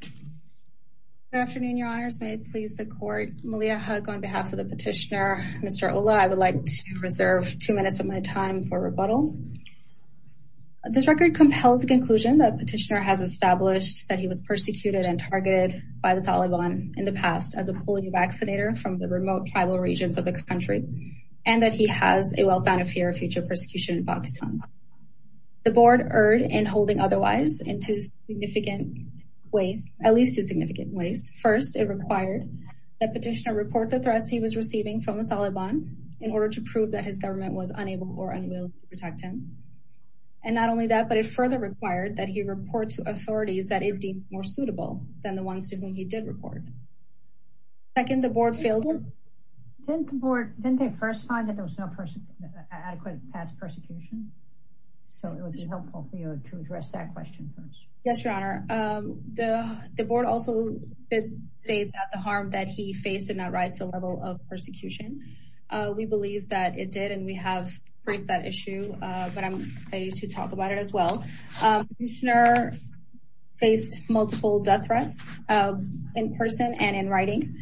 Good afternoon, your honors. May it please the court. Malia Hugg on behalf of the petitioner, Mr. Ullah, I would like to reserve two minutes of my time for rebuttal. This record compels the conclusion that petitioner has established that he was persecuted and targeted by the Taliban in the past as a polio vaccinator from the remote tribal regions of the country, and that he has a well-founded fear of future persecution in Pakistan. The board erred in holding otherwise in two significant ways, at least two significant ways. First, it required that petitioner report the threats he was receiving from the Taliban in order to prove that his government was unable or unwilling to protect him. And not only that, but it further required that he report to authorities that it deemed more suitable than the ones to whom he did report. Second, the board failed. Didn't the board, didn't they first find that there was no adequate past persecution? So it would be helpful to address that question first. Yes, your honor. The board also did state that the harm that he faced did not rise to the level of persecution. We believe that it did and we have briefed that issue, but I'm ready to talk about it as well. Petitioner faced multiple death threats in person and in writing.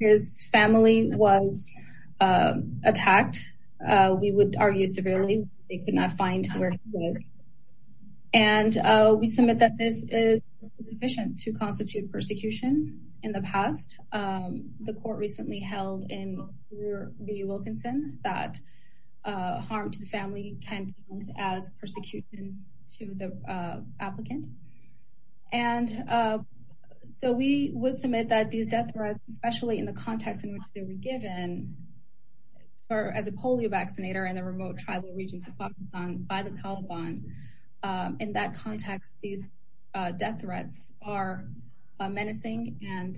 His family was attacked. We would argue severely. They could not find where he was. And we submit that this is sufficient to constitute persecution in the past. The court recently held in Wilkinson that harm to the family can count as persecution to the applicant. And so we would submit that these death threats, especially in the context in which they were given as a polio vaccinator in the remote tribal regions of Pakistan by the Taliban. In that context, these death threats are menacing and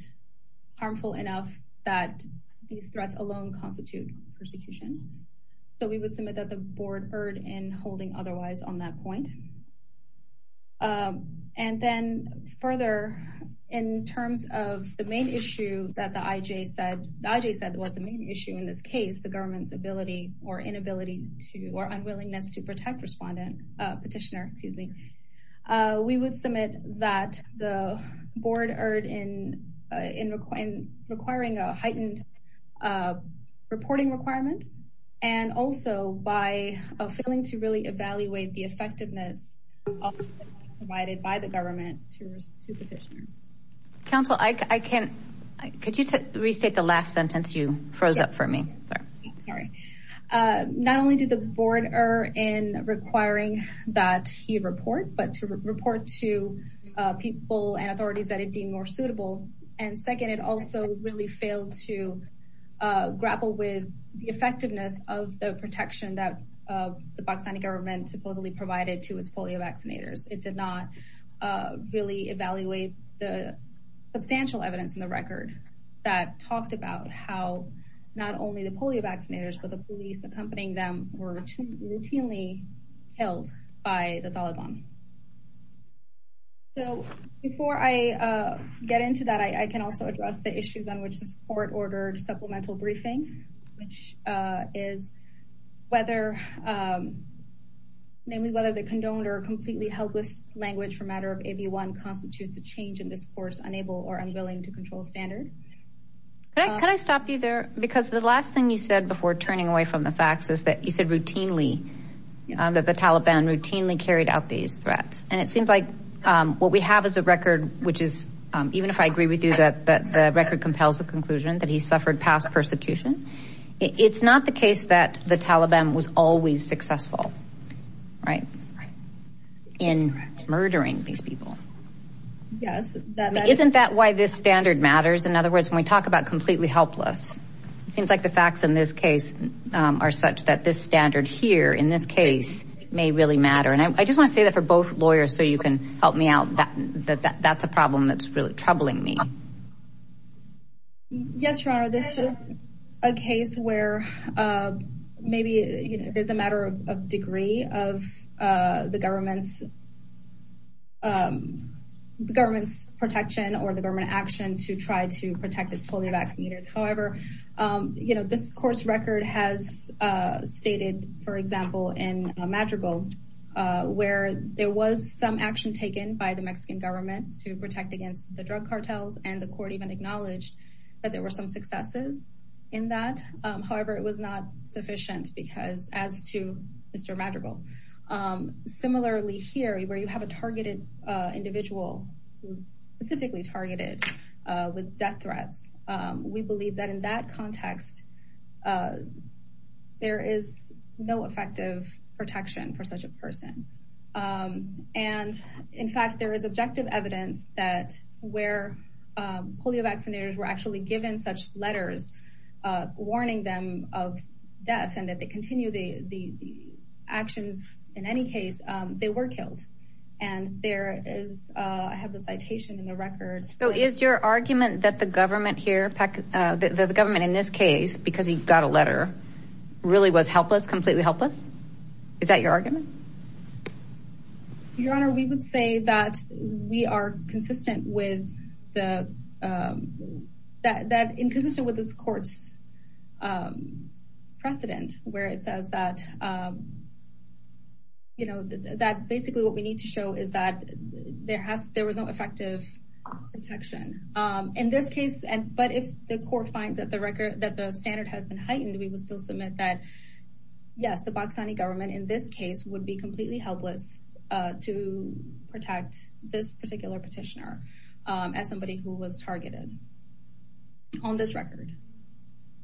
harmful enough that these threats alone constitute persecution. So we would submit that the board erred in holding otherwise on that point. And then further in terms of the main issue that the IJ said, the IJ said was the main issue in this case, the government's ability or inability to, or unwillingness to protect respondent, petitioner, excuse me. We would submit that the board erred in requiring a heightened a reporting requirement and also by failing to really evaluate the effectiveness provided by the government to petitioner. Counsel, I can't, could you restate the last sentence you froze up for me? Sorry. Sorry. Not only did the board err in requiring that he report, but to report to people and authorities that it deemed more suitable. And second, it also really failed to grapple with the effectiveness of the protection that the Pakistani government supposedly provided to its polio vaccinators. It did not really evaluate the substantial evidence in the record that talked about how not only the polio vaccinators, but the police accompanying them were routinely held by the Taliban. So before I get into that, I can also address the issues on which this court ordered supplemental briefing, which is whether, namely whether the condoned or completely helpless language for matter of AB1 constitutes a change in this court's unable or unwilling to control standard. Can I stop you there? Because the last thing you said before turning away from the facts is that you said routinely that the Taliban routinely carried out these threats. And it seems like what we have is a record, which is even if I agree with you that the record compels the conclusion that he suffered past persecution. It's not the case that the Taliban was always successful, right? In murdering these people. Yes. Isn't that why this standard matters? In other words, when we talk about completely helpless, it seems like the case are such that this standard here in this case may really matter. And I just want to say that for both lawyers, so you can help me out that that's a problem that's really troubling me. Yes, Your Honor, this is a case where maybe it is a matter of degree of the government's protection or the government action to try to protect its polio vaccinators. However, you know, this court's record has stated, for example, in Madrigal, where there was some action taken by the Mexican government to protect against the drug cartels. And the court even acknowledged that there were some successes in that. However, it was not sufficient because as to Mr. Madrigal. Similarly here, where you have a targeted individual, specifically targeted with death context, there is no effective protection for such a person. And in fact, there is objective evidence that where polio vaccinators were actually given such letters warning them of death and that they continue the actions. In any case, they were killed. And there is I have the in this case because he got a letter really was helpless, completely helpless. Is that your argument? Your Honor, we would say that we are consistent with the that inconsistent with this court's precedent where it says that, you know, that basically what we need to show is that there was no effective protection in this case. And but if the court finds that the record that the standard has been heightened, we will still submit that. Yes, the Baxani government in this case would be completely helpless to protect this particular petitioner as somebody who was targeted on this record.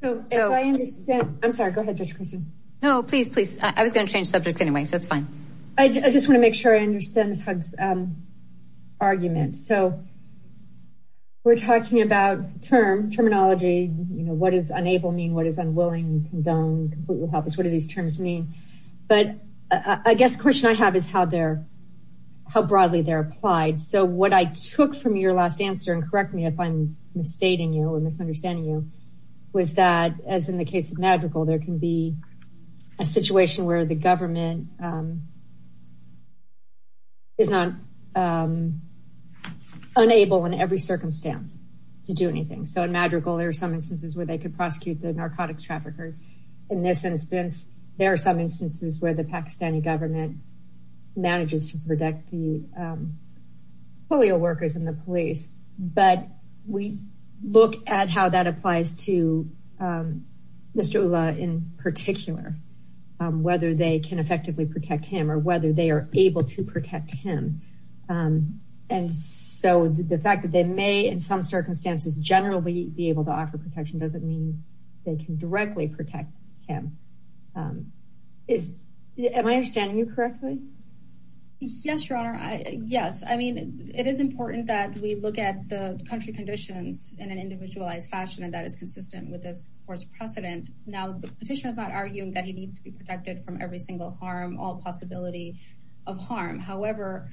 So I understand. I'm sorry. Go ahead. No, please, please. I was going to change the subject anyway, so it's fine. I just want to make sure I understand this argument. So we're talking about term terminology. You know, what does unable mean? What is unwilling, condoned, completely helpless? What do these terms mean? But I guess the question I have is how they're how broadly they're applied. So what I took from your last answer and correct me if I'm misstating you or misunderstanding you was that, as in the case of magical, there can be a situation where the government is not unable in every circumstance to do anything. So in magical, there are some instances where they could prosecute the narcotics traffickers. In this instance, there are some instances where the Pakistani government manages to protect the polio workers and the police. But we look at how that applies to Mr. Ullah in particular, whether they can effectively protect him or whether they are able to protect him. And so the fact that they may, in some circumstances, generally be able to offer protection doesn't mean they can directly protect him. Am I understanding you correctly? Yes, Your Honor. Yes. I mean, it is important that we look at the country conditions in an individualized fashion, and that is consistent with this force precedent. Now, the petitioner is not arguing that he needs to be protected from every single harm, all possibility of harm. However,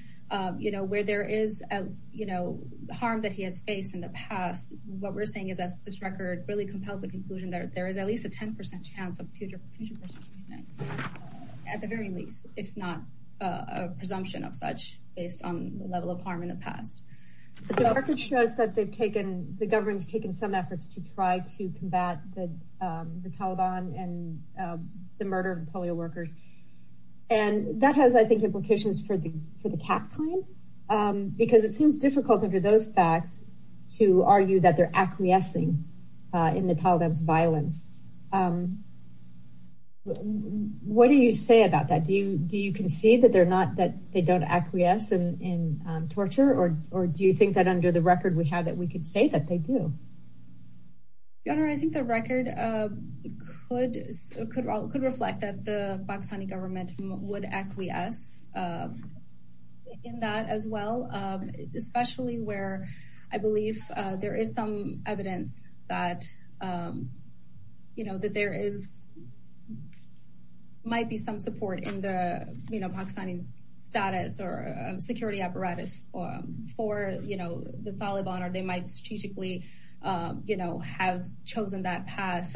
you know, where there is, you know, harm that he has faced in the past, what we're saying is that this record really compels the conclusion that there is at least a 10% chance of future prosecution, at the very least, if not a presumption of such based on the level of harm in the past. But the record shows that the government has taken some efforts to try to combat the Taliban and the murder of polio workers. And that has, I think, implications for the cap claim, because it seems difficult under those facts to argue that they're acquiescing in the Taliban's violence. What do you say about that? Do you torture or do you think that under the record we have that we could say that they do? Your Honor, I think the record could reflect that the Pakistani government would acquiesce in that as well, especially where I believe there is some evidence that, you know, that there is, might be some support in the Pakistani's status or security apparatus for, you know, the Taliban, or they might strategically, you know, have chosen that path.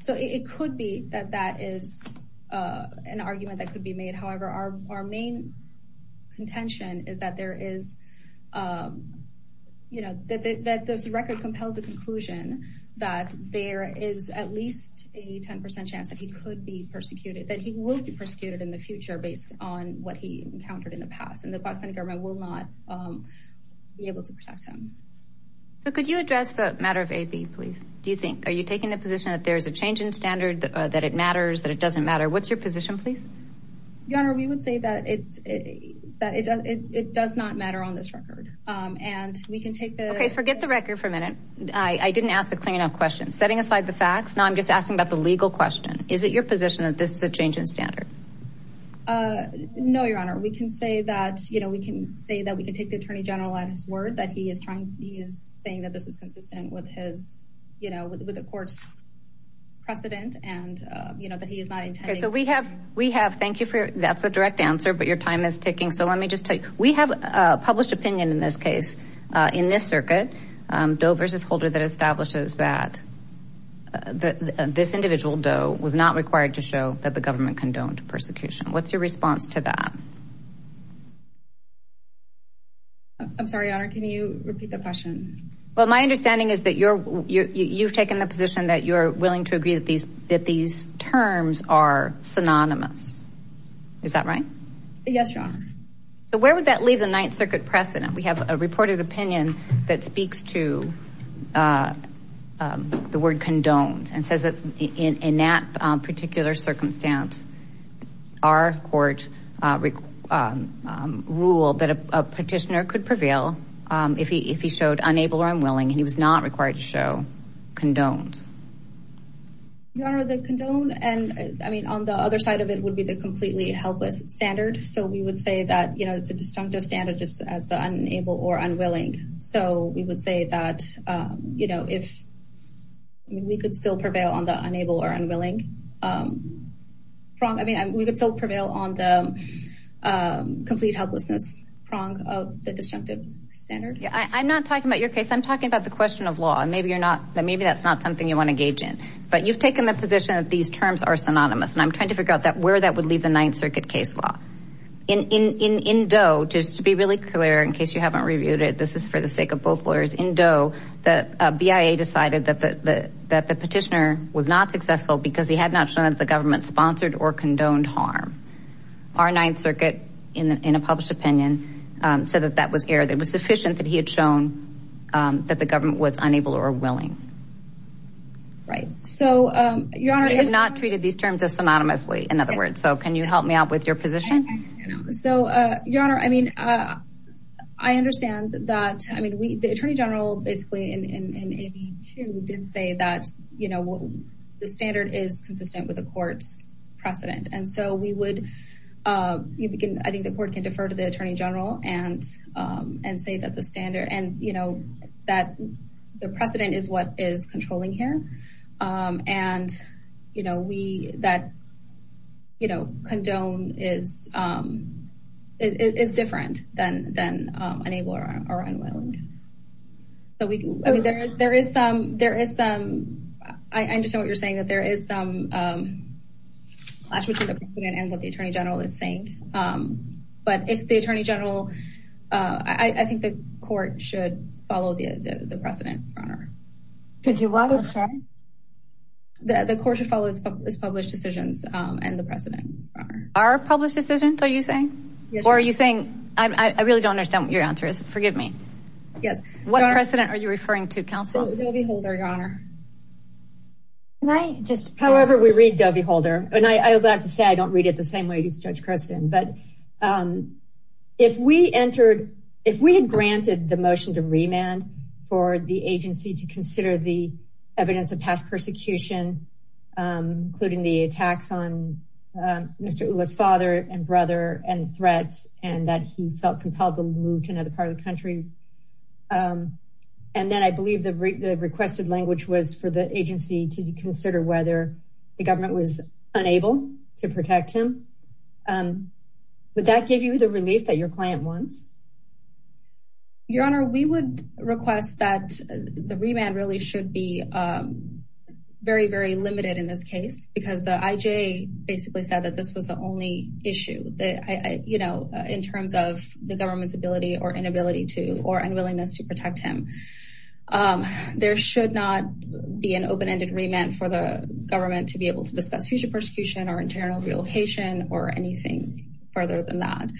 So it could be that that is an argument that could be made. However, our main contention is that there is, you know, that this record compels the conclusion that there is at least a 10% chance that he could be persecuted, that he will be persecuted in the future based on what he encountered in the past. And the Pakistani government will not be able to protect him. So could you address the matter of AB, please? Do you think, are you taking the position that there's a change in standard, that it matters, that it doesn't matter? What's your position, please? Your Honor, we would say that it does not matter on this record. And we can take the- Okay, forget the record for a minute. I didn't ask a clear enough question. Setting aside the question, is it your position that this is a change in standard? No, Your Honor, we can say that, you know, we can say that we can take the Attorney General at his word that he is trying, he is saying that this is consistent with his, you know, with the court's precedent and, you know, that he is not intending- Okay, so we have, we have, thank you for, that's a direct answer, but your time is ticking. So let me just tell you, we have a published opinion in this case, in this circuit, Doe versus Holder, that establishes that this individual, Doe, was not required to show that the government condoned persecution. What's your response to that? I'm sorry, Your Honor, can you repeat the question? Well, my understanding is that you're, you've taken the position that you're willing to agree that these, that these terms are synonymous. Is that right? Yes, Your Honor. So where would that leave the Ninth Circuit precedent? We have a reported opinion that speaks to the word condones and says that in that particular circumstance, our court ruled that a petitioner could prevail if he showed unable or unwilling, and he was not required to show condones. Your Honor, the condone and, I mean, on the other side of it would be the completely helpless standard. So we would say that, you know, it's a disjunctive standard just as the unable or unwilling. So we would say that, you know, if, I mean, we could still prevail on the unable or unwilling prong. I mean, we could still prevail on the complete helplessness prong of the disjunctive standard. I'm not talking about your case. I'm talking about the question of law. And maybe you're not, maybe that's not something you want to gauge in, but you've taken the position that these terms are synonymous. And I'm trying to just to be really clear, in case you haven't reviewed it, this is for the sake of both lawyers. In Doe, the BIA decided that the petitioner was not successful because he had not shown that the government sponsored or condoned harm. Our Ninth Circuit, in a published opinion, said that that was error, that it was sufficient that he had shown that the government was unable or willing. Right. So, Your Honor- They have not treated these terms as synonymously, in other I mean, I understand that. I mean, we, the Attorney General, basically in AB 2, did say that, you know, the standard is consistent with the court's precedent. And so we would, I think the court can defer to the Attorney General and say that the standard and, you know, that the precedent is what is controlling here. And, you know, we, that, you know, condone is, is different than unable or unwilling. So we, I mean, there is some, there is some, I understand what you're saying, that there is some clash between the precedent and what the Attorney General is saying. But if the Attorney General, I think the court should follow the precedent, Your Honor. Did you want to say? The court should follow its published decisions and the precedent, Your Honor. Are published decisions, are you saying? Yes. Or are you saying, I really don't understand what your answer is. Forgive me. Yes. What precedent are you referring to, Counsel? Dovey Holder, Your Honor. Can I just- However we read Dovey Holder, and I would have to say, I don't read it the same way as Judge Christin, but if we entered, if we had granted the motion to remand for the agency to consider the evidence of past persecution, including the attacks on Mr. Ulla's father and brother and threats, and that he felt compelled to move to another part of the country. And then I believe the requested language was for the agency to consider whether the government was unable to protect him. Would that give you the relief that your client wants? Your Honor, we would request that the remand really should be very, very limited in this case, because the IJ basically said that this was the only issue that I, you know, in terms of the government's ability or inability to, or unwillingness to protect him. There should not be an open-ended remand for the government to be able to discuss future persecution or internal relocation or anything further than that.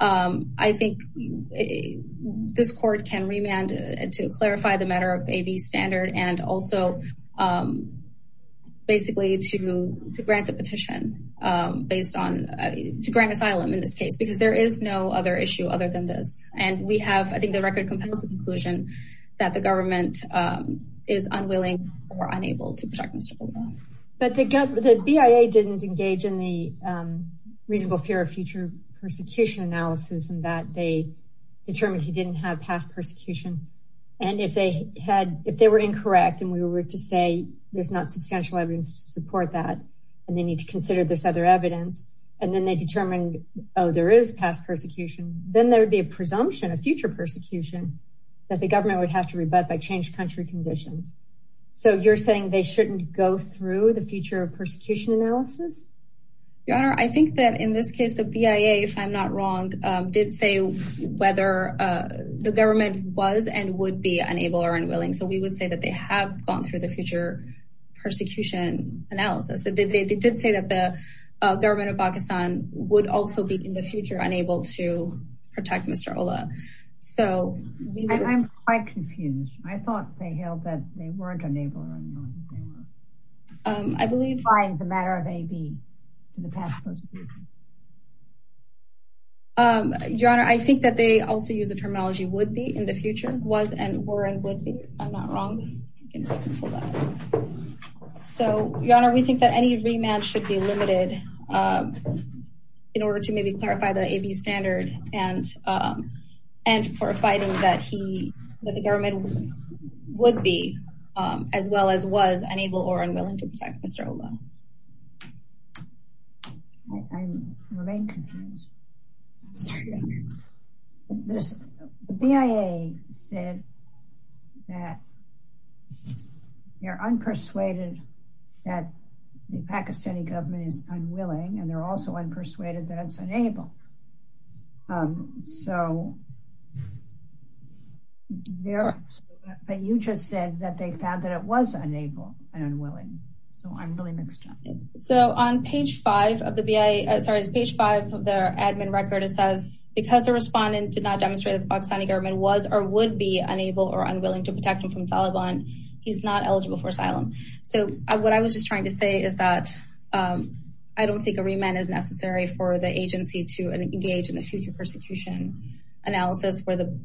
I think this court can remand to clarify the matter of AB standard and also basically to grant the petition, based on, to grant asylum in this case, because there is no other issue other than this. And we have, I think, the record compels the conclusion that the government is unwilling or unable to protect Mr. Ulla. But the BIA didn't engage in the reasonable fear of future persecution analysis in that they determined he didn't have past persecution. And if they had, if they were incorrect, and we were to say, there's not substantial evidence to support that, and they need to consider this other evidence, and then they determined, oh, there is past persecution, then there'd be a presumption of future persecution that the government would have to rebut by changed country conditions. So you're saying they shouldn't go through the future of persecution analysis? Your Honor, I think that in this case, the BIA, if I'm not wrong, did say whether the government was and would be unable or unwilling. So we would say that they have gone through the future persecution analysis that they did say that the government of Pakistan would also be in the future unable to protect Mr. Ulla. So I'm quite confused. I thought they held that they weren't unable. I believe by the matter of AB. Your Honor, I think that they also use the terminology would be in the future was and were and would be. I'm not wrong. So, Your Honor, we think that any remand should be limited in order to maybe clarify the AB standard and, and for a fighting that he, that the government would be, as well as was unable or unwilling to protect Mr. Ulla. I'm remain confused. Sorry, Your Honor. The BIA said that they're unpersuaded that the Pakistani government is unwilling and they're also unpersuaded that it's unable. So they're, but you just said that they found that it was unable and unwilling. So I'm really mixed up. So on page five of the BIA, sorry, the page five of their admin record, it says, because the respondent did not demonstrate that the Pakistani government was or would be unable or unwilling to protect him from Taliban, he's not eligible for asylum. So what I was just trying to say is that I don't think a remand is necessary for the agency to engage in the future persecution analysis where the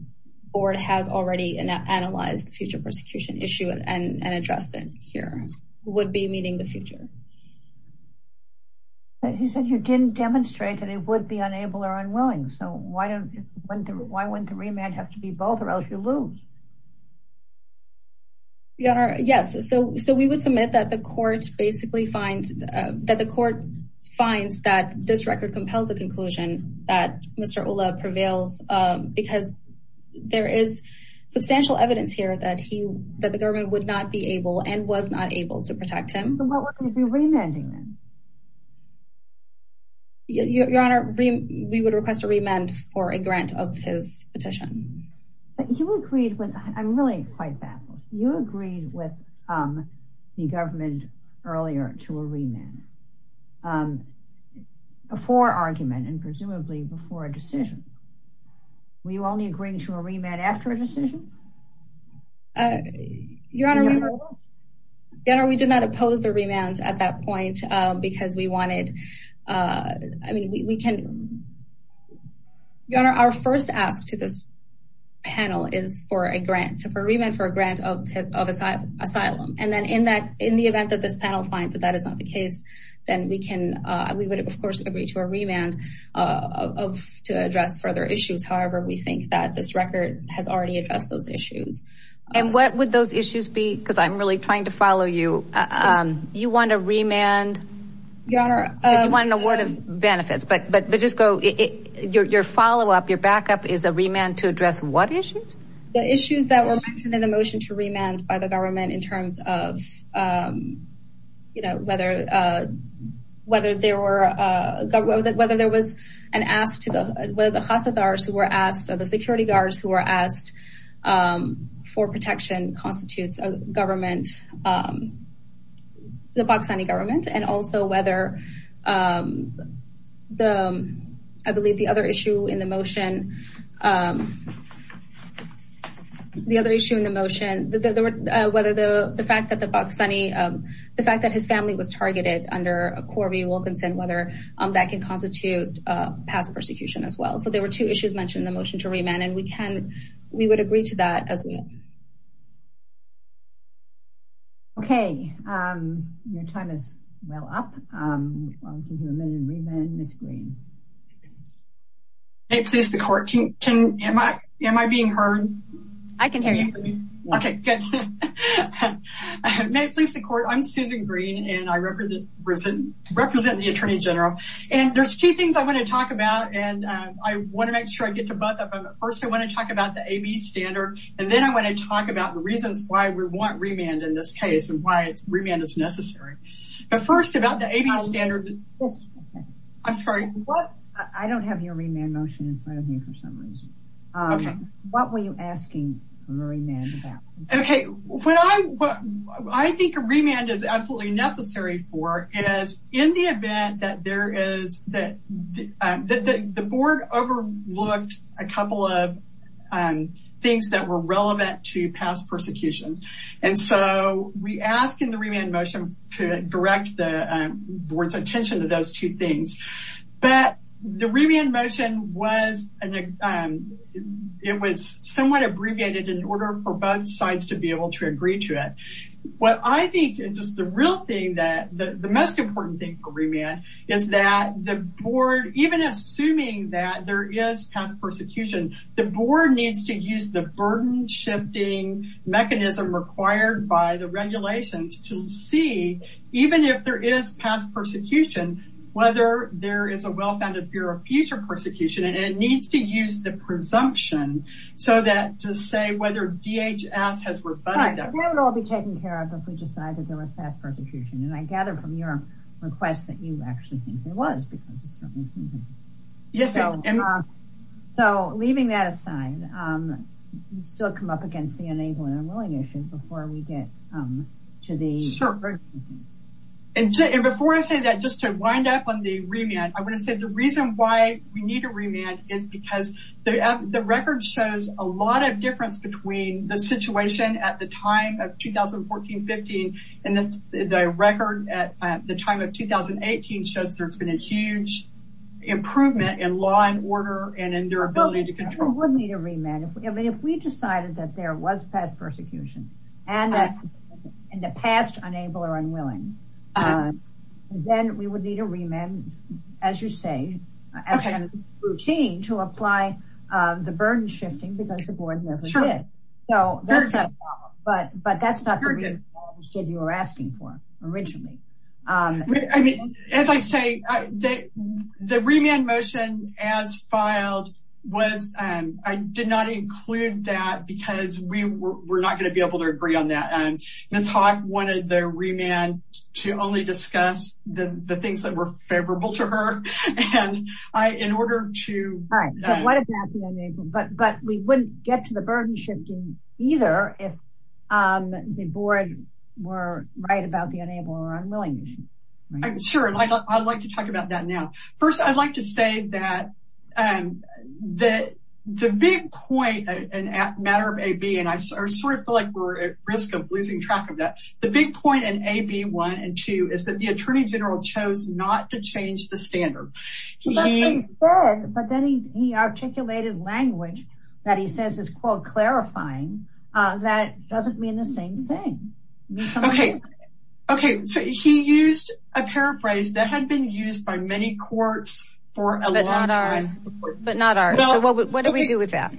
board has already analyzed the future persecution issue and addressed it here would be meeting the future. He said you didn't demonstrate that it would be unable or unwilling. So why don't, why wouldn't the remand have to be both or else you lose? Your Honor, yes. So, so we would submit that the court basically find that the court finds that this record compels a conclusion that Mr. Ulla prevails because there is substantial evidence here that he, that the government would not be able and was not able to protect him. Your Honor, we would request a remand for a grant of his petition. You agreed with, I'm really quite baffled. You agreed with the government earlier to a remand were you only agreeing to a remand after a decision? Your Honor, we did not oppose the remand at that point because we wanted, I mean, we can, Your Honor, our first ask to this panel is for a grant for remand for a grant of, of asylum. And then in that, in the event that this panel finds that that is not the case, then we can, we would of course agree to a remand of, to address further issues. However, we think that this record has already addressed those issues. And what would those issues be? Cause I'm really trying to follow you. You want a remand? Your Honor, cause you want an award of benefits, but, but, but just go, your, your followup, your backup is a remand to address what issues? The issues that were mentioned in the motion to remand by the government in terms of, you know, whether, whether there were, whether there was an ask to the, whether the Hasidars who were asked or the security guards who were asked for protection constitutes a government, the Pakistani government, and also whether the, I believe the other issue in the motion, the other issue in the motion, whether the fact that the Pakistani, the fact that his family was targeted under a Corby Wilkinson, whether that can constitute past persecution as well. So there were two issues mentioned in the motion to remand and we can, we would agree to that as well. Okay. Your time is well up. May it please the court. Can, can, am I, am I being heard? I can hear you. Okay. May it please the court. I'm Susan Green and I represent, represent the Attorney General. And there's two things I want to talk about. And I want to make sure I get to both of them. First, I want to talk about the AB standard. And then I want to talk about the reasons why we want remand in this case and why it's remand is necessary. But first about the AB standard. I'm sorry. I don't have your remand motion in front of me for some reason. Okay. What were you asking for remand about? Okay. When I, what I think a remand is absolutely necessary for is in the event that there is that the board overlooked a couple of things that were relevant to past persecution. And so we ask in the remand motion to direct the board's attention to those two things. But the remand motion was, it was somewhat abbreviated in order for both sides to be able to agree to it. What I think is just the real thing that the most important thing for remand is that the board, even assuming that there is past persecution, the board needs to use the required by the regulations to see, even if there is past persecution, whether there is a well-founded fear of future persecution. And it needs to use the presumption so that to say whether DHS has rebutted that. Right. That would all be taken care of if we decided there was past persecution. And I gather from your request that you actually think there was. So leaving that aside, we still come up against the enabling and willing issue before we get to the. And before I say that, just to wind up on the remand, I want to say the reason why we need a remand is because the record shows a lot of difference between the situation at the time of 2014-15 and the record at the time of 2018 shows there's been a huge improvement in law and order and in their ability to control. We would need a remand. I mean, if we decided that there was past persecution and that in the past unable or unwilling, then we would need a remand, as you say, as a routine to apply the burden shifting because the board never did. So that's not a problem, but that's not the reason you were asking for originally. I mean, as I say, the remand motion as filed was, I did not include that because we were not going to be able to agree on that. And Ms. Hawk wanted the remand to only discuss the things that were favorable to her. And I, in order to. Right. But what about the enabling? But we wouldn't get to the burden shifting either if the board were right about the unable or unwilling. Sure. And I'd like to talk about that now. First, I'd like to say that the big point and matter of AB, and I sort of feel like we're at risk of losing track of that. The big point in AB one and two is that the attorney general chose not to change the standard. He said, but then he articulated language that he says is called clarifying. That doesn't mean the same thing. Okay. Okay. So he used a paraphrase that had been used by many courts for a long time. But not ours. So what do we do with that?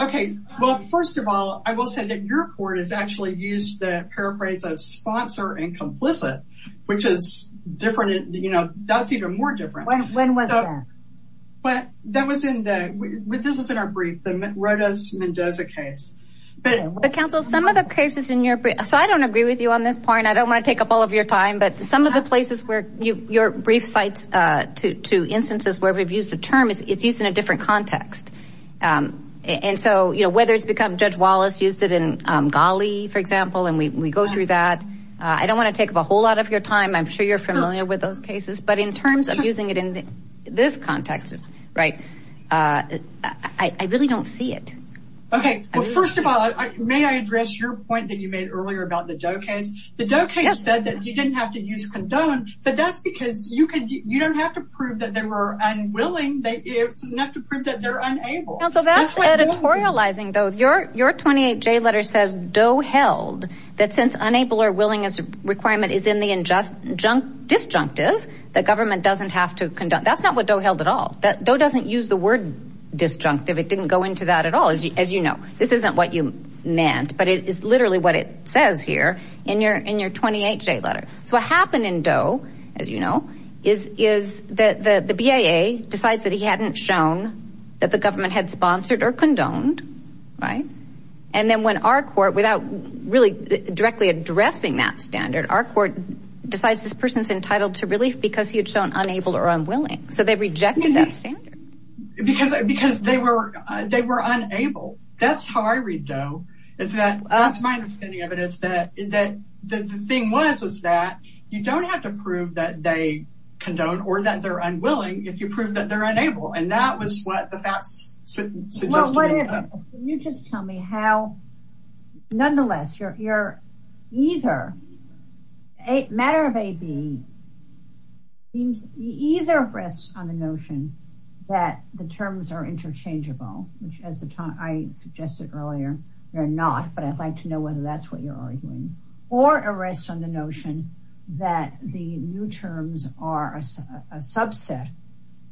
Okay. Well, first of all, I will say that your court has actually used the paraphrase of sponsor and complicit, which is different. You know, that's even more different. When was that? But that was in the, this is in our brief. The Rodas Mendoza case. But counsel, some of the cases in your brief. So I don't agree with you on this point. I don't want to take up all of your time, but some of the places where your brief sites to instances where we've used the term, it's used in a different context. And so, you know, whether it's become Judge Wallace used it in Ghali, for example, and we go through that. I don't want to take up a whole lot of your time. I'm sure you're familiar with those cases, but in terms of using it in this context, right? I really don't see it. Okay. Well, first of all, may I address your point that you made earlier about the Doe case? The Doe case said that you didn't have to use condone, but that's because you don't have to prove that they were unwilling. It's enough to prove that they're unable. Counsel, that's editorializing those. Your 28J letter says Doe held that since willingness requirement is in the injunctive, disjunctive, the government doesn't have to condone. That's not what Doe held at all. That doe doesn't use the word disjunctive. It didn't go into that at all. As you know, this isn't what you meant, but it is literally what it says here in your 28J letter. So what happened in Doe, as you know, is that the BAA decides that he hadn't shown that the government had sponsored or condoned. Right. And then when our court without really directly addressing that standard, our court decides this person's entitled to relief because he had shown unable or unwilling. So they rejected that standard. Because they were unable. That's how I read Doe. That's my understanding of it. The thing was that you don't have to prove that they condone or that they're unwilling if you prove that they're unable. And that was what that suggested. Can you just tell me how, nonetheless, your either, matter of A, B, either rests on the notion that the terms are interchangeable, which as I suggested earlier, they're not. But I'd like to know whether that's what you're arguing. Or it rests on the notion that the new terms are a subset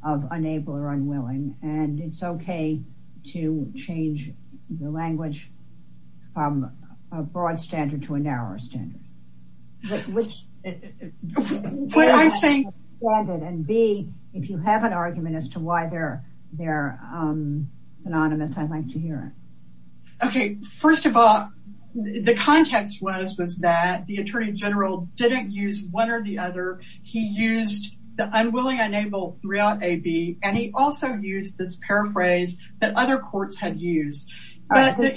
of unable or unwilling. And it's okay to change the language from a broad standard to a narrower standard. And B, if you have an argument as to why they're synonymous, I'd like to hear it. Okay. First of all, the context was that the Attorney General didn't use one or the other. He used the unwilling, unable throughout A, B. And he also used this paraphrase that other courts have used. We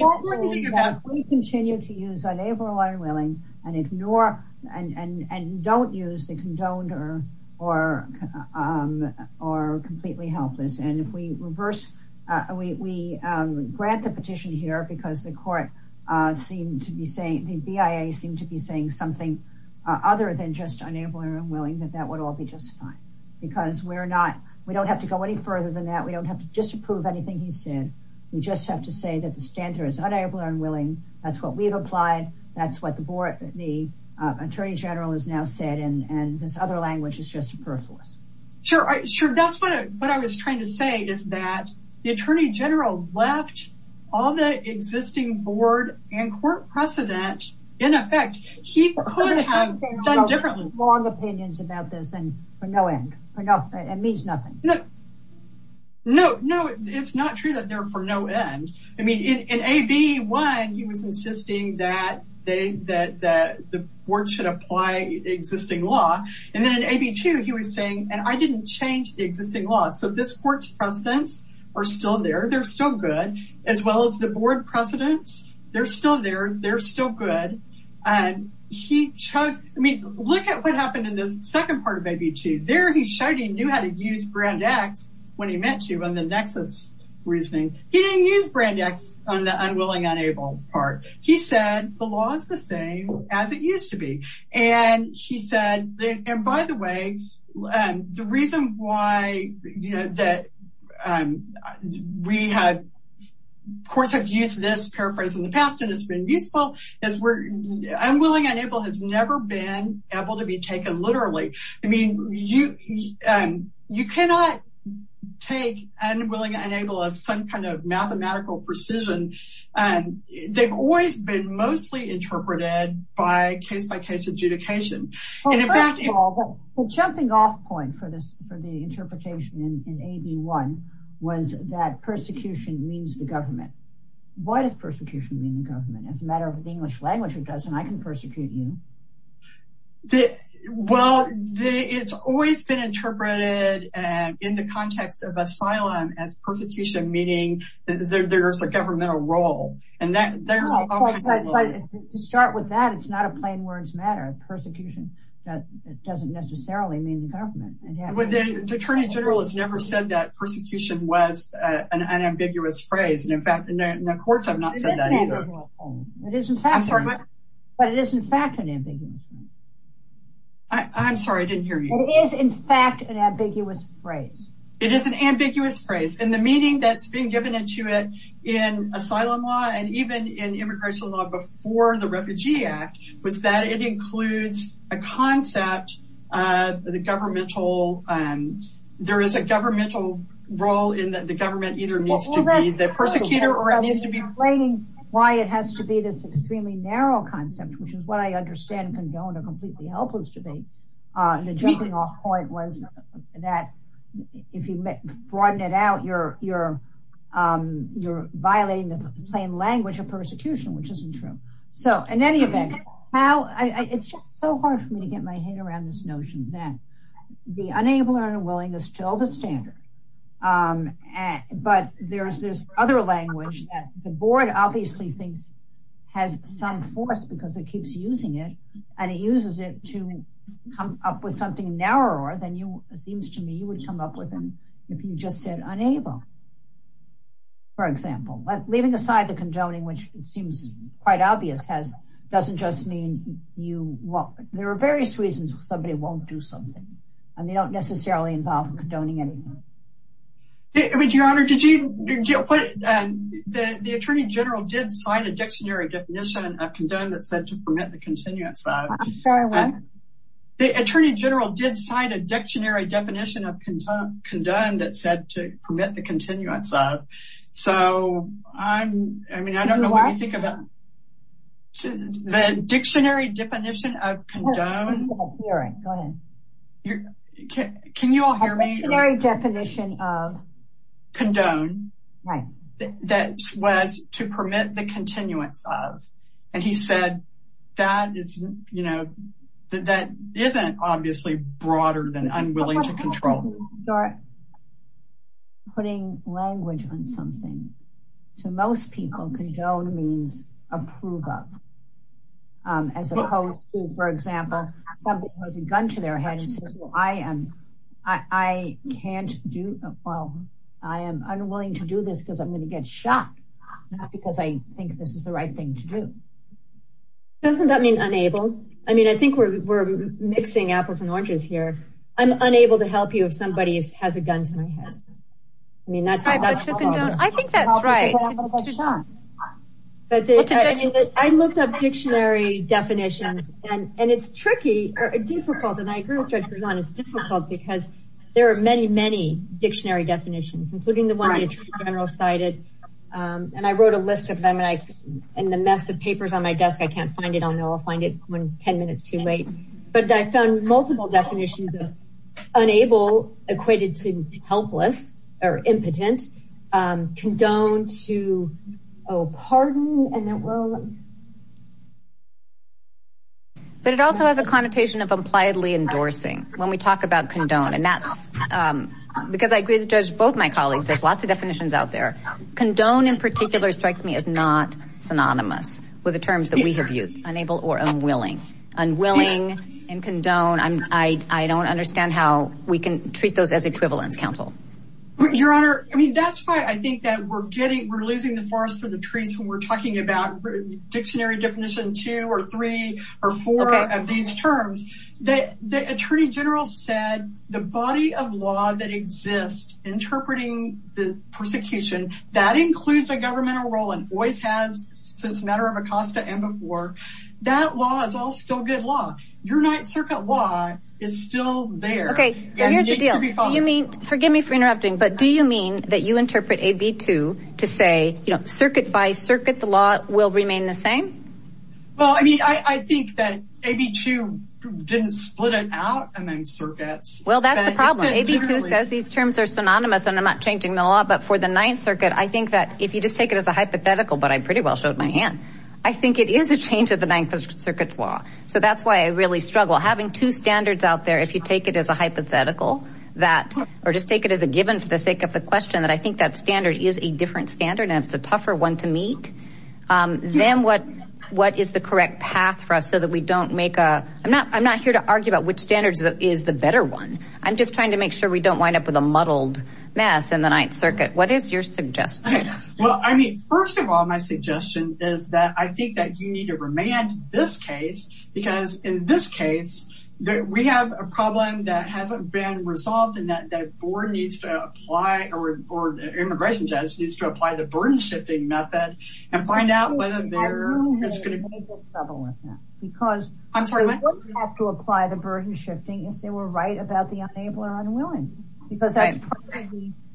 continue to use unable, unwilling and ignore and don't use the condoned or completely helpless. And if we reverse, we grant the petition here because the court seemed to be saying, the BIA seemed to be saying something other than just unable or unwilling, that that would all be just fine. Because we're not, we don't have to go any further than that. We don't have to disapprove anything he said. We just have to say that the standard is unable or unwilling. That's what we've applied. That's what the board, the Attorney General has now said. And this other language is just a paraphrase. Sure. That's what I was trying to say is that the Attorney General left all the existing board and court precedent in effect. He could have done differently. Long opinions about this and for no end. It means nothing. No, no, it's not true that they're for no end. I mean, in A, B, one, he was insisting that they, that the board should apply existing law. And then in A, B, two, he was saying, and I didn't change the existing law. So this court's precedents are still there. They're still good. As well as the board precedents, they're still there. They're still good. And he chose, I mean, look at what happened in the second part of A, B, two. There he showed he knew how to use Brand X when he met you on the nexus reasoning. He didn't use Brand X on the unwilling, unable part. He said the law is the same as it used to be. And he said, and by the way, the reason why, you know, that we have, of course, have used this paraphrase in the past and it's been useful, is where unwilling, unable has never been able to be taken literally. I mean, you, you cannot take unwilling, unable as some kind of mathematical precision. They've always been mostly interpreted by case-by-case adjudication. The jumping off point for this, for the interpretation in A, B, one was that persecution means the government. Why does persecution mean the government? As a matter of the English language, it doesn't. I can persecute you. Well, it's always been interpreted in the context of asylum as persecution, meaning that there's a governmental role. And that there's, to start with that, it's not a plain words matter. Persecution doesn't necessarily mean the government. The attorney general has never said that persecution was an ambiguous phrase. And in fact, the courts have not said that either. But it is in fact an ambiguous phrase. I'm sorry, I didn't hear you. It is in fact an ambiguous phrase. It is an ambiguous phrase. And the meaning that's been given into it in asylum law, and even in immigration law before the Refugee Act, was that it includes a concept, the governmental, there is a governmental role in that the government either needs to be the persecutor, or it needs to be... Explaining why it has to be this extremely narrow concept, which is what I if you broaden it out, you're violating the plain language of persecution, which isn't true. So in any event, it's just so hard for me to get my head around this notion that the unable and unwilling is still the standard. But there's this other language that the board obviously thinks has some force because it keeps using it. And it uses it to come up with something narrower than it seems to me you would come up with if you just said unable. For example, leaving aside the condoning, which it seems quite obvious, doesn't just mean you won't. There are various reasons somebody won't do something. And they don't necessarily involve condoning anything. Your Honor, the Attorney General did sign a dictionary definition of a dictionary definition of condone that said to permit the continuance of. So I'm, I mean, I don't know what you think about the dictionary definition of condone. Can you all hear me? The dictionary definition of condone was to permit the continuance of. And he said that is, you know, that isn't obviously broader than unwilling to control. Putting language on something to most people, condone means approve of. As opposed to, for example, somebody has a gun to their head and says, well, I am, I can't do, well, I am unwilling to do this because I'm going to get shot. Not because I think this is the right thing to do. Doesn't that mean unable? I mean, I think we're mixing apples and oranges here. I'm unable to help you if somebody has a gun to my head. I mean, that's. I think that's right. I looked up dictionary definitions and it's tricky or difficult. And I agree with Judge Berzon. It's difficult because there are many, many dictionary definitions, including the one the Attorney General cited. And I wrote a list of them and I, in the mess of papers on my desk, I can't find it. I'll know I'll find it when 10 minutes too late. But I found multiple definitions of unable equated to helpless or impotent. Condone to, oh, pardon. And it will. But it also has a connotation of impliedly endorsing when we talk about condone. And that's because I agree with Judge both my colleagues. There's lots of definitions out there. Condone in particular strikes me as not synonymous with the terms that we have used, unable or unwilling, unwilling and condone. I don't understand how we can treat those as equivalence counsel. Your Honor, I mean, that's why I think that we're getting we're losing the forest for the trees when we're talking about dictionary definition two or three or four of these terms. The Attorney General said the body of law that exists interpreting the persecution that includes a governmental role and always has since matter of Acosta and before. That law is all still good law. Your Ninth Circuit law is still there. OK, here's the deal. You mean forgive me for interrupting, but do you mean that you interpret a B2 to say, you know, circuit by circuit, the law will remain the same? Well, I mean, I think that a B2 didn't split it out and then circuits. Well, that's the problem. A B2 says these terms are synonymous and I'm not changing the law. But for the Ninth Circuit, I think that if you just take it as a hypothetical, but I pretty well showed my hand, I think it is a change of the Ninth Circuit's law. So that's why I really struggle having two standards out there. If you take it as a hypothetical that or just take it as a given for the sake of the question that I think that standard is different standard and it's a tougher one to meet, then what what is the correct path for us so that we don't make a I'm not I'm not here to argue about which standards is the better one. I'm just trying to make sure we don't wind up with a muddled mess in the Ninth Circuit. What is your suggestion? Well, I mean, first of all, my suggestion is that I think that you need to remand this case because in this case, we have a problem that hasn't been resolved and that that needs to apply or immigration judge needs to apply the burden shifting method and find out whether there is going to be trouble with that. Because I'm sorry, we have to apply the burden shifting if they were right about the unable or unwilling, because that's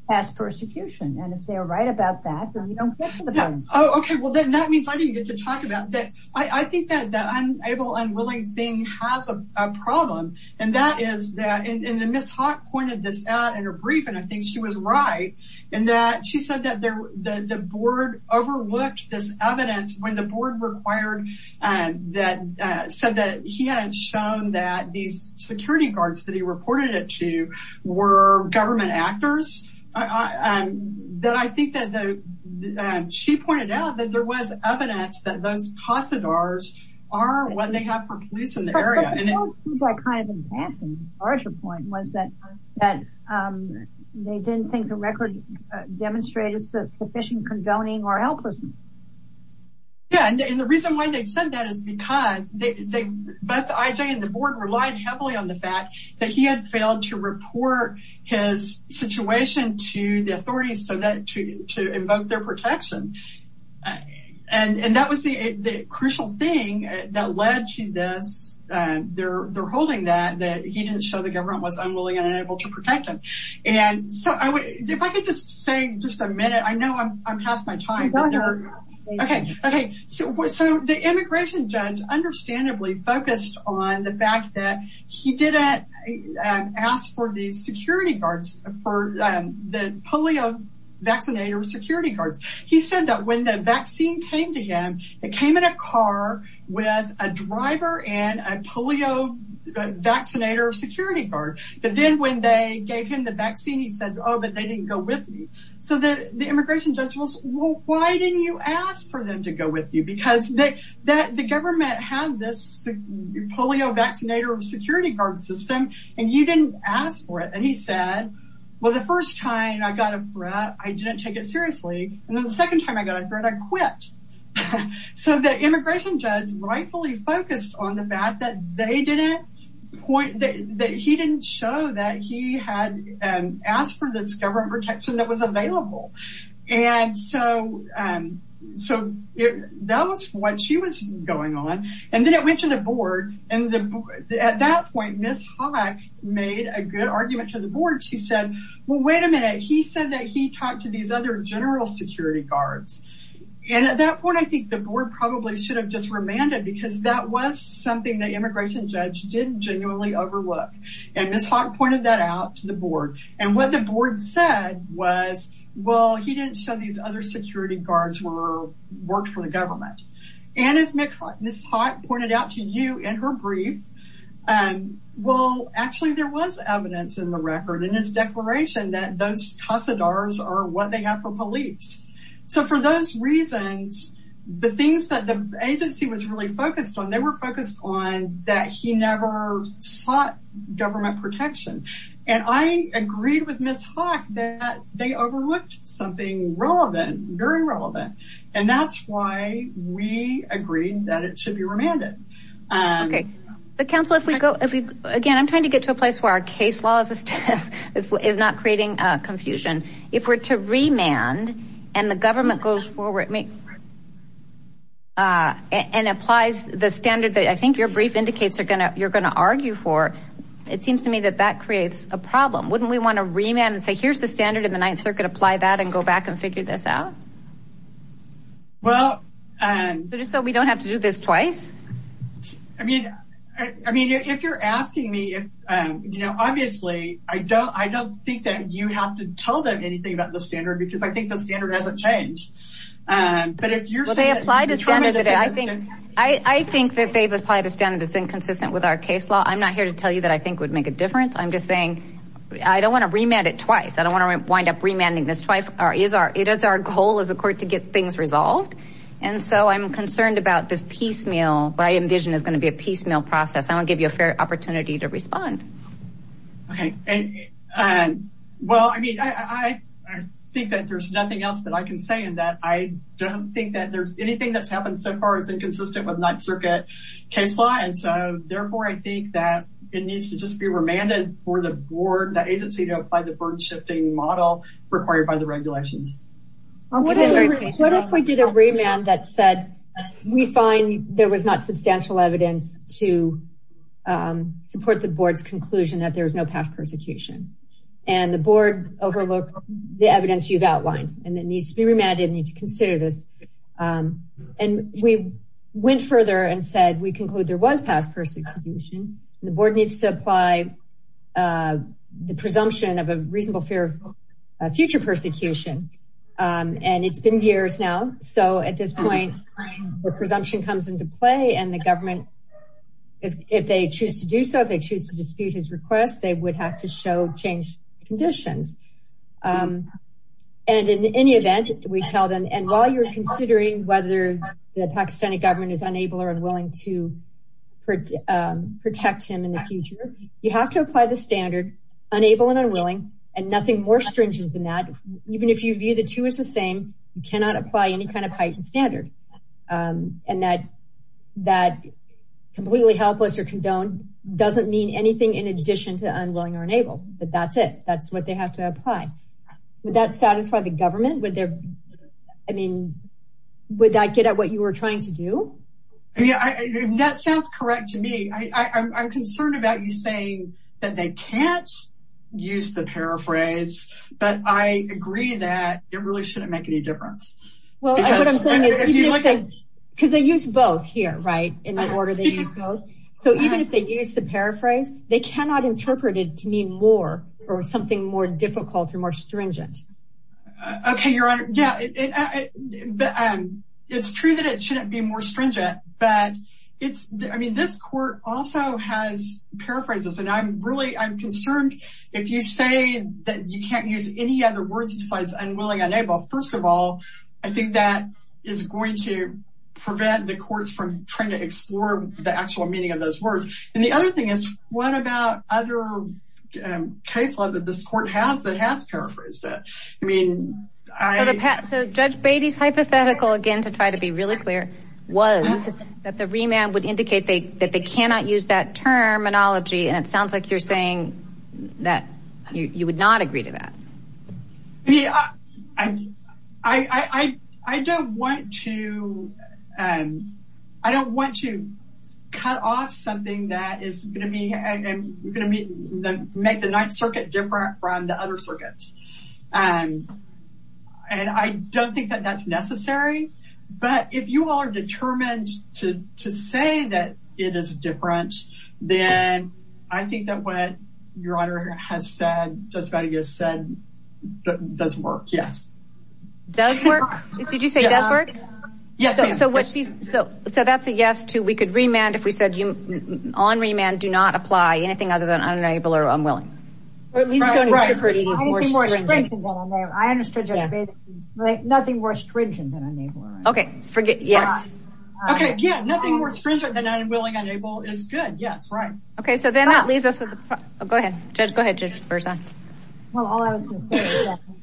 past persecution. And if they are right about that, then we don't get to the point. Oh, OK, well, then that means I didn't get to talk about that. I think that that I'm able and willing thing has a problem. And that is that in the mishap pointed this out in a brief, and I think she was right in that she said that the board overlooked this evidence when the board required and that said that he had shown that these security guards that he reported it to were government actors. Then I think that she pointed out that there was evidence that those Casa D'Ars are what they have for police in the area. And I kind of imagine the larger point was that they didn't think the record demonstrated sufficient condoning or helplessness. Yeah, and the reason why they said that is because they both IJ and the board relied heavily on the fact that he had failed to report his situation to the authorities so that to that led to this. They're holding that that he didn't show the government was unwilling and unable to protect him. And so if I could just say just a minute, I know I'm past my time. OK, OK, so the immigration judge understandably focused on the fact that he didn't ask for the security guards for the polio vaccinator security guards. He said that when the vaccine came to him, it came in a car with a driver and a polio vaccinator security guard. But then when they gave him the vaccine, he said, oh, but they didn't go with me. So the immigration judge was, well, why didn't you ask for them to go with you? Because the government had this polio vaccinator security guard system and you didn't ask for it. And he said, well, the first time I got a threat, I didn't take it seriously. And then the second time I got a threat, I quit. So the immigration judge rightfully focused on the fact that they didn't point that he didn't show that he had asked for this government protection that was available. And so so that was what she was going on. And then it went to the board. And at that point, Ms. Haack made a good argument to the board. She said, well, wait a minute. He said that he talked to these other general security guards. And at that point, I think the board probably should have just remanded because that was something that immigration judge didn't genuinely overlook. And Ms. Haack pointed that out to the board. And what the board said was, well, he didn't show these other security guards worked for the government. And as Ms. Haack pointed out to you in her brief, and well, actually, there was evidence in the record in his declaration that those custodians are what they have for police. So for those reasons, the things that the agency was really focused on, they were focused on that he never sought government protection. And I agreed with Ms. Haack that they overlooked something relevant, very relevant. And that's why we agreed that it should be remanded. Okay. But counsel, again, I'm trying to get to a place where our case law is not creating confusion. If we're to remand and the government goes forward and applies the standard that I think your brief indicates you're going to argue for, it seems to me that that creates a problem. Wouldn't we want to remand and say, here's the standard in the Ninth Circuit, apply that and go back and figure this out? Well, just so we don't have to do this twice? I mean, if you're asking me, obviously I don't think that you have to tell them anything about the standard because I think the standard hasn't changed. But if you're saying- Well, they applied a standard today. I think that they've applied a standard that's inconsistent with our case law. I'm not here to tell you that I think would make a difference. I'm just saying, I don't want to remand it twice. I don't want to wind up remanding this twice. It is our goal as a court to get things resolved. And so I'm concerned about this piecemeal, what I envision is going to be a piecemeal process. I want to give you a fair opportunity to respond. Okay. Well, I mean, I think that there's nothing else that I can say in that. I don't think that there's anything that's happened so far is inconsistent with Ninth Circuit case law. And so therefore, I think that it needs to just be remanded for the board, the agency to apply the burden shifting model required by the regulations. What if we did a remand that said, we find there was not substantial evidence to support the board's conclusion that there was no past persecution? And the board overlooked the evidence you've outlined, and it needs to be remanded and need to consider this. And we went further and said, we conclude there was past persecution. The board needs to apply a presumption of a reasonable fear of future persecution. And it's been years now. So at this point, the presumption comes into play and the government, if they choose to do so, if they choose to dispute his request, they would have to show change conditions. And in any event, we tell them, and while you're considering whether the Pakistani government is standard, unable and unwilling, and nothing more stringent than that, even if you view the two as the same, you cannot apply any kind of heightened standard. And that completely helpless or condoned doesn't mean anything in addition to unwilling or unable, but that's it. That's what they have to apply. Would that satisfy the government? I mean, would that get at what you were trying to do? Yeah, that sounds correct to me. I'm concerned about you saying that they can't use the paraphrase, but I agree that it really shouldn't make any difference. Because they use both here, right? So even if they use the paraphrase, they cannot interpret it to mean more or something more difficult or more stringent. Okay, Your Honor. Yeah, it's true that it shouldn't be more stringent, but I mean, this court also has paraphrases, and I'm concerned if you say that you can't use any other words besides unwilling, unable, first of all, I think that is going to prevent the courts from trying to explore the actual meaning of those words. And the other thing is, what about other case law that this court has that has paraphrased it? So Judge Beatty's hypothetical, again, to try to be really clear, was that the remand would indicate that they cannot use that terminology, and it sounds like you're saying that you would not agree to that. Yeah, I don't want to cut off something that is going to make the Ninth Circuit different from the other circuits. And I don't think that that's necessary, but if you are determined to say that it is different, then I think that what Your Honor has said, Judge Beatty has said, does work, yes. Does work? Did you say it does work? Yes, ma'am. So that's a yes to, we could remand if we said on remand, do not apply anything other than unable or unwilling. I understood, Judge Beatty, nothing more stringent than unable or unwilling. Okay, forget, yes. Okay, yeah, nothing more stringent than unwilling, unable is good, yes, right. Okay, so then that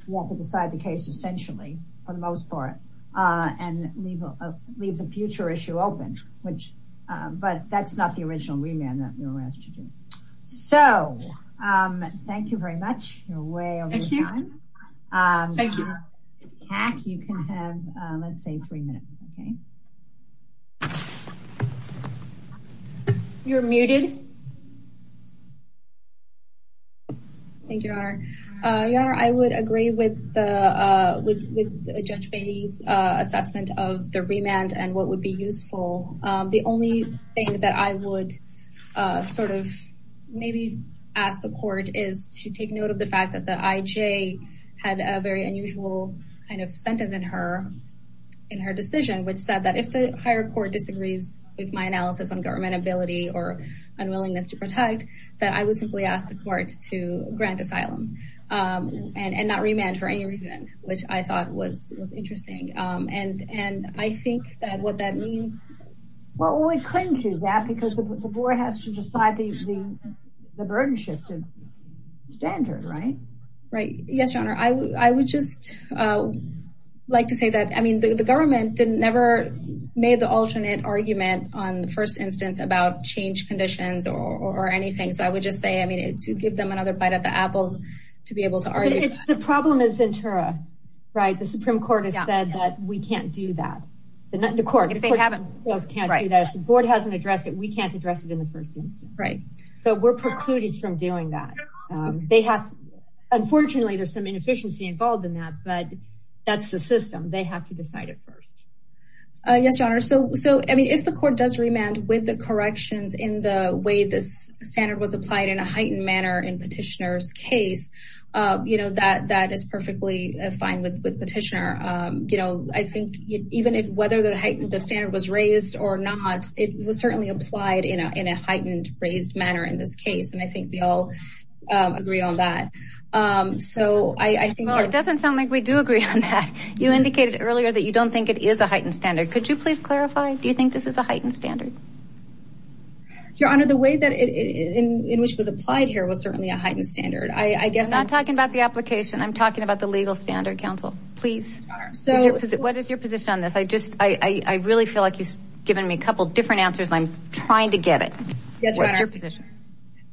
won't decide the case, essentially, for the most part, and leaves a future issue open, but that's not the original remand that we were asked to do. So thank you very much, you're way over time. Thank you. You can have, let's say, three minutes, okay? You're muted. Thank you, Your Honor. Your Honor, I would agree with Judge Beatty's assessment of the remand and what would be useful. The only thing that I would sort of maybe ask the court is to take note of the IJ had a very unusual kind of sentence in her decision, which said that if the higher court disagrees with my analysis on government ability or unwillingness to protect, that I would simply ask the court to grant asylum and not remand for any reason, which I thought was interesting. And I think that what that means. Well, we couldn't do that because the board has to decide the burden shift of standard, right? Right, yes, Your Honor. I would just like to say that, I mean, the government never made the alternate argument on the first instance about change conditions or anything. So I would just say, I mean, to give them another bite at the apple to be able to argue. The problem is Ventura, right? The Supreme Court has said that we can't do that. The court hasn't addressed it, we can't address it in the first instance. So we're precluded from doing that. They have, unfortunately, there's some inefficiency involved in that, but that's the system. They have to decide it first. Yes, Your Honor. So, I mean, if the court does remand with the corrections in the way this standard was applied in a heightened manner in petitioner's case, that is perfectly fine with petitioner. I think even if whether the standard was raised or not, it was certainly applied in a heightened, raised manner in this case. And I think we all agree on that. So I think- Well, it doesn't sound like we do agree on that. You indicated earlier that you don't think it is a heightened standard. Could you please clarify? Do you think this is a heightened standard? Your Honor, the way in which it was applied here was certainly a heightened standard. I guess- I'm not talking about the application, I'm talking about the legal standard, counsel, please. What is your position on this? I really feel like you've given me a couple of different answers and I'm trying to get it. What's your position?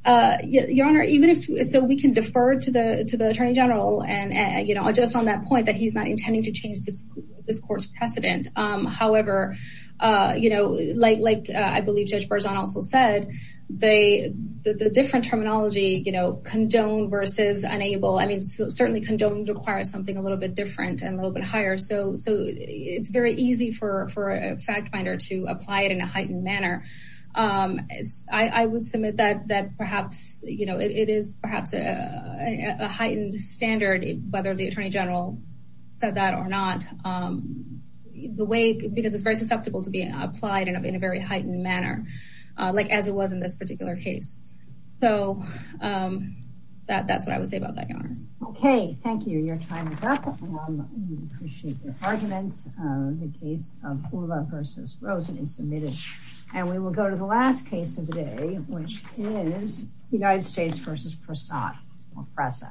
Your Honor, even if, so we can defer to the attorney general and adjust on that point that he's not intending to change this court's precedent. However, like I believe Judge Berzon also said, the different terminology, condoned versus unable, I mean, certainly condoned requires something a little bit different and a little bit higher. So it's very easy for a fact finder to apply it in a heightened manner. I would submit that perhaps it is perhaps a heightened standard, whether the attorney general said that or not, because it's very susceptible to being applied in a very heightened manner, like as it was in this particular case. So that's what I would say about that, Your Honor. Okay, thank you. Your time is up. We appreciate your arguments. The case of Hula versus Rosen is submitted. And we will go to the last case of the day, which is United States versus Prasad or Presa.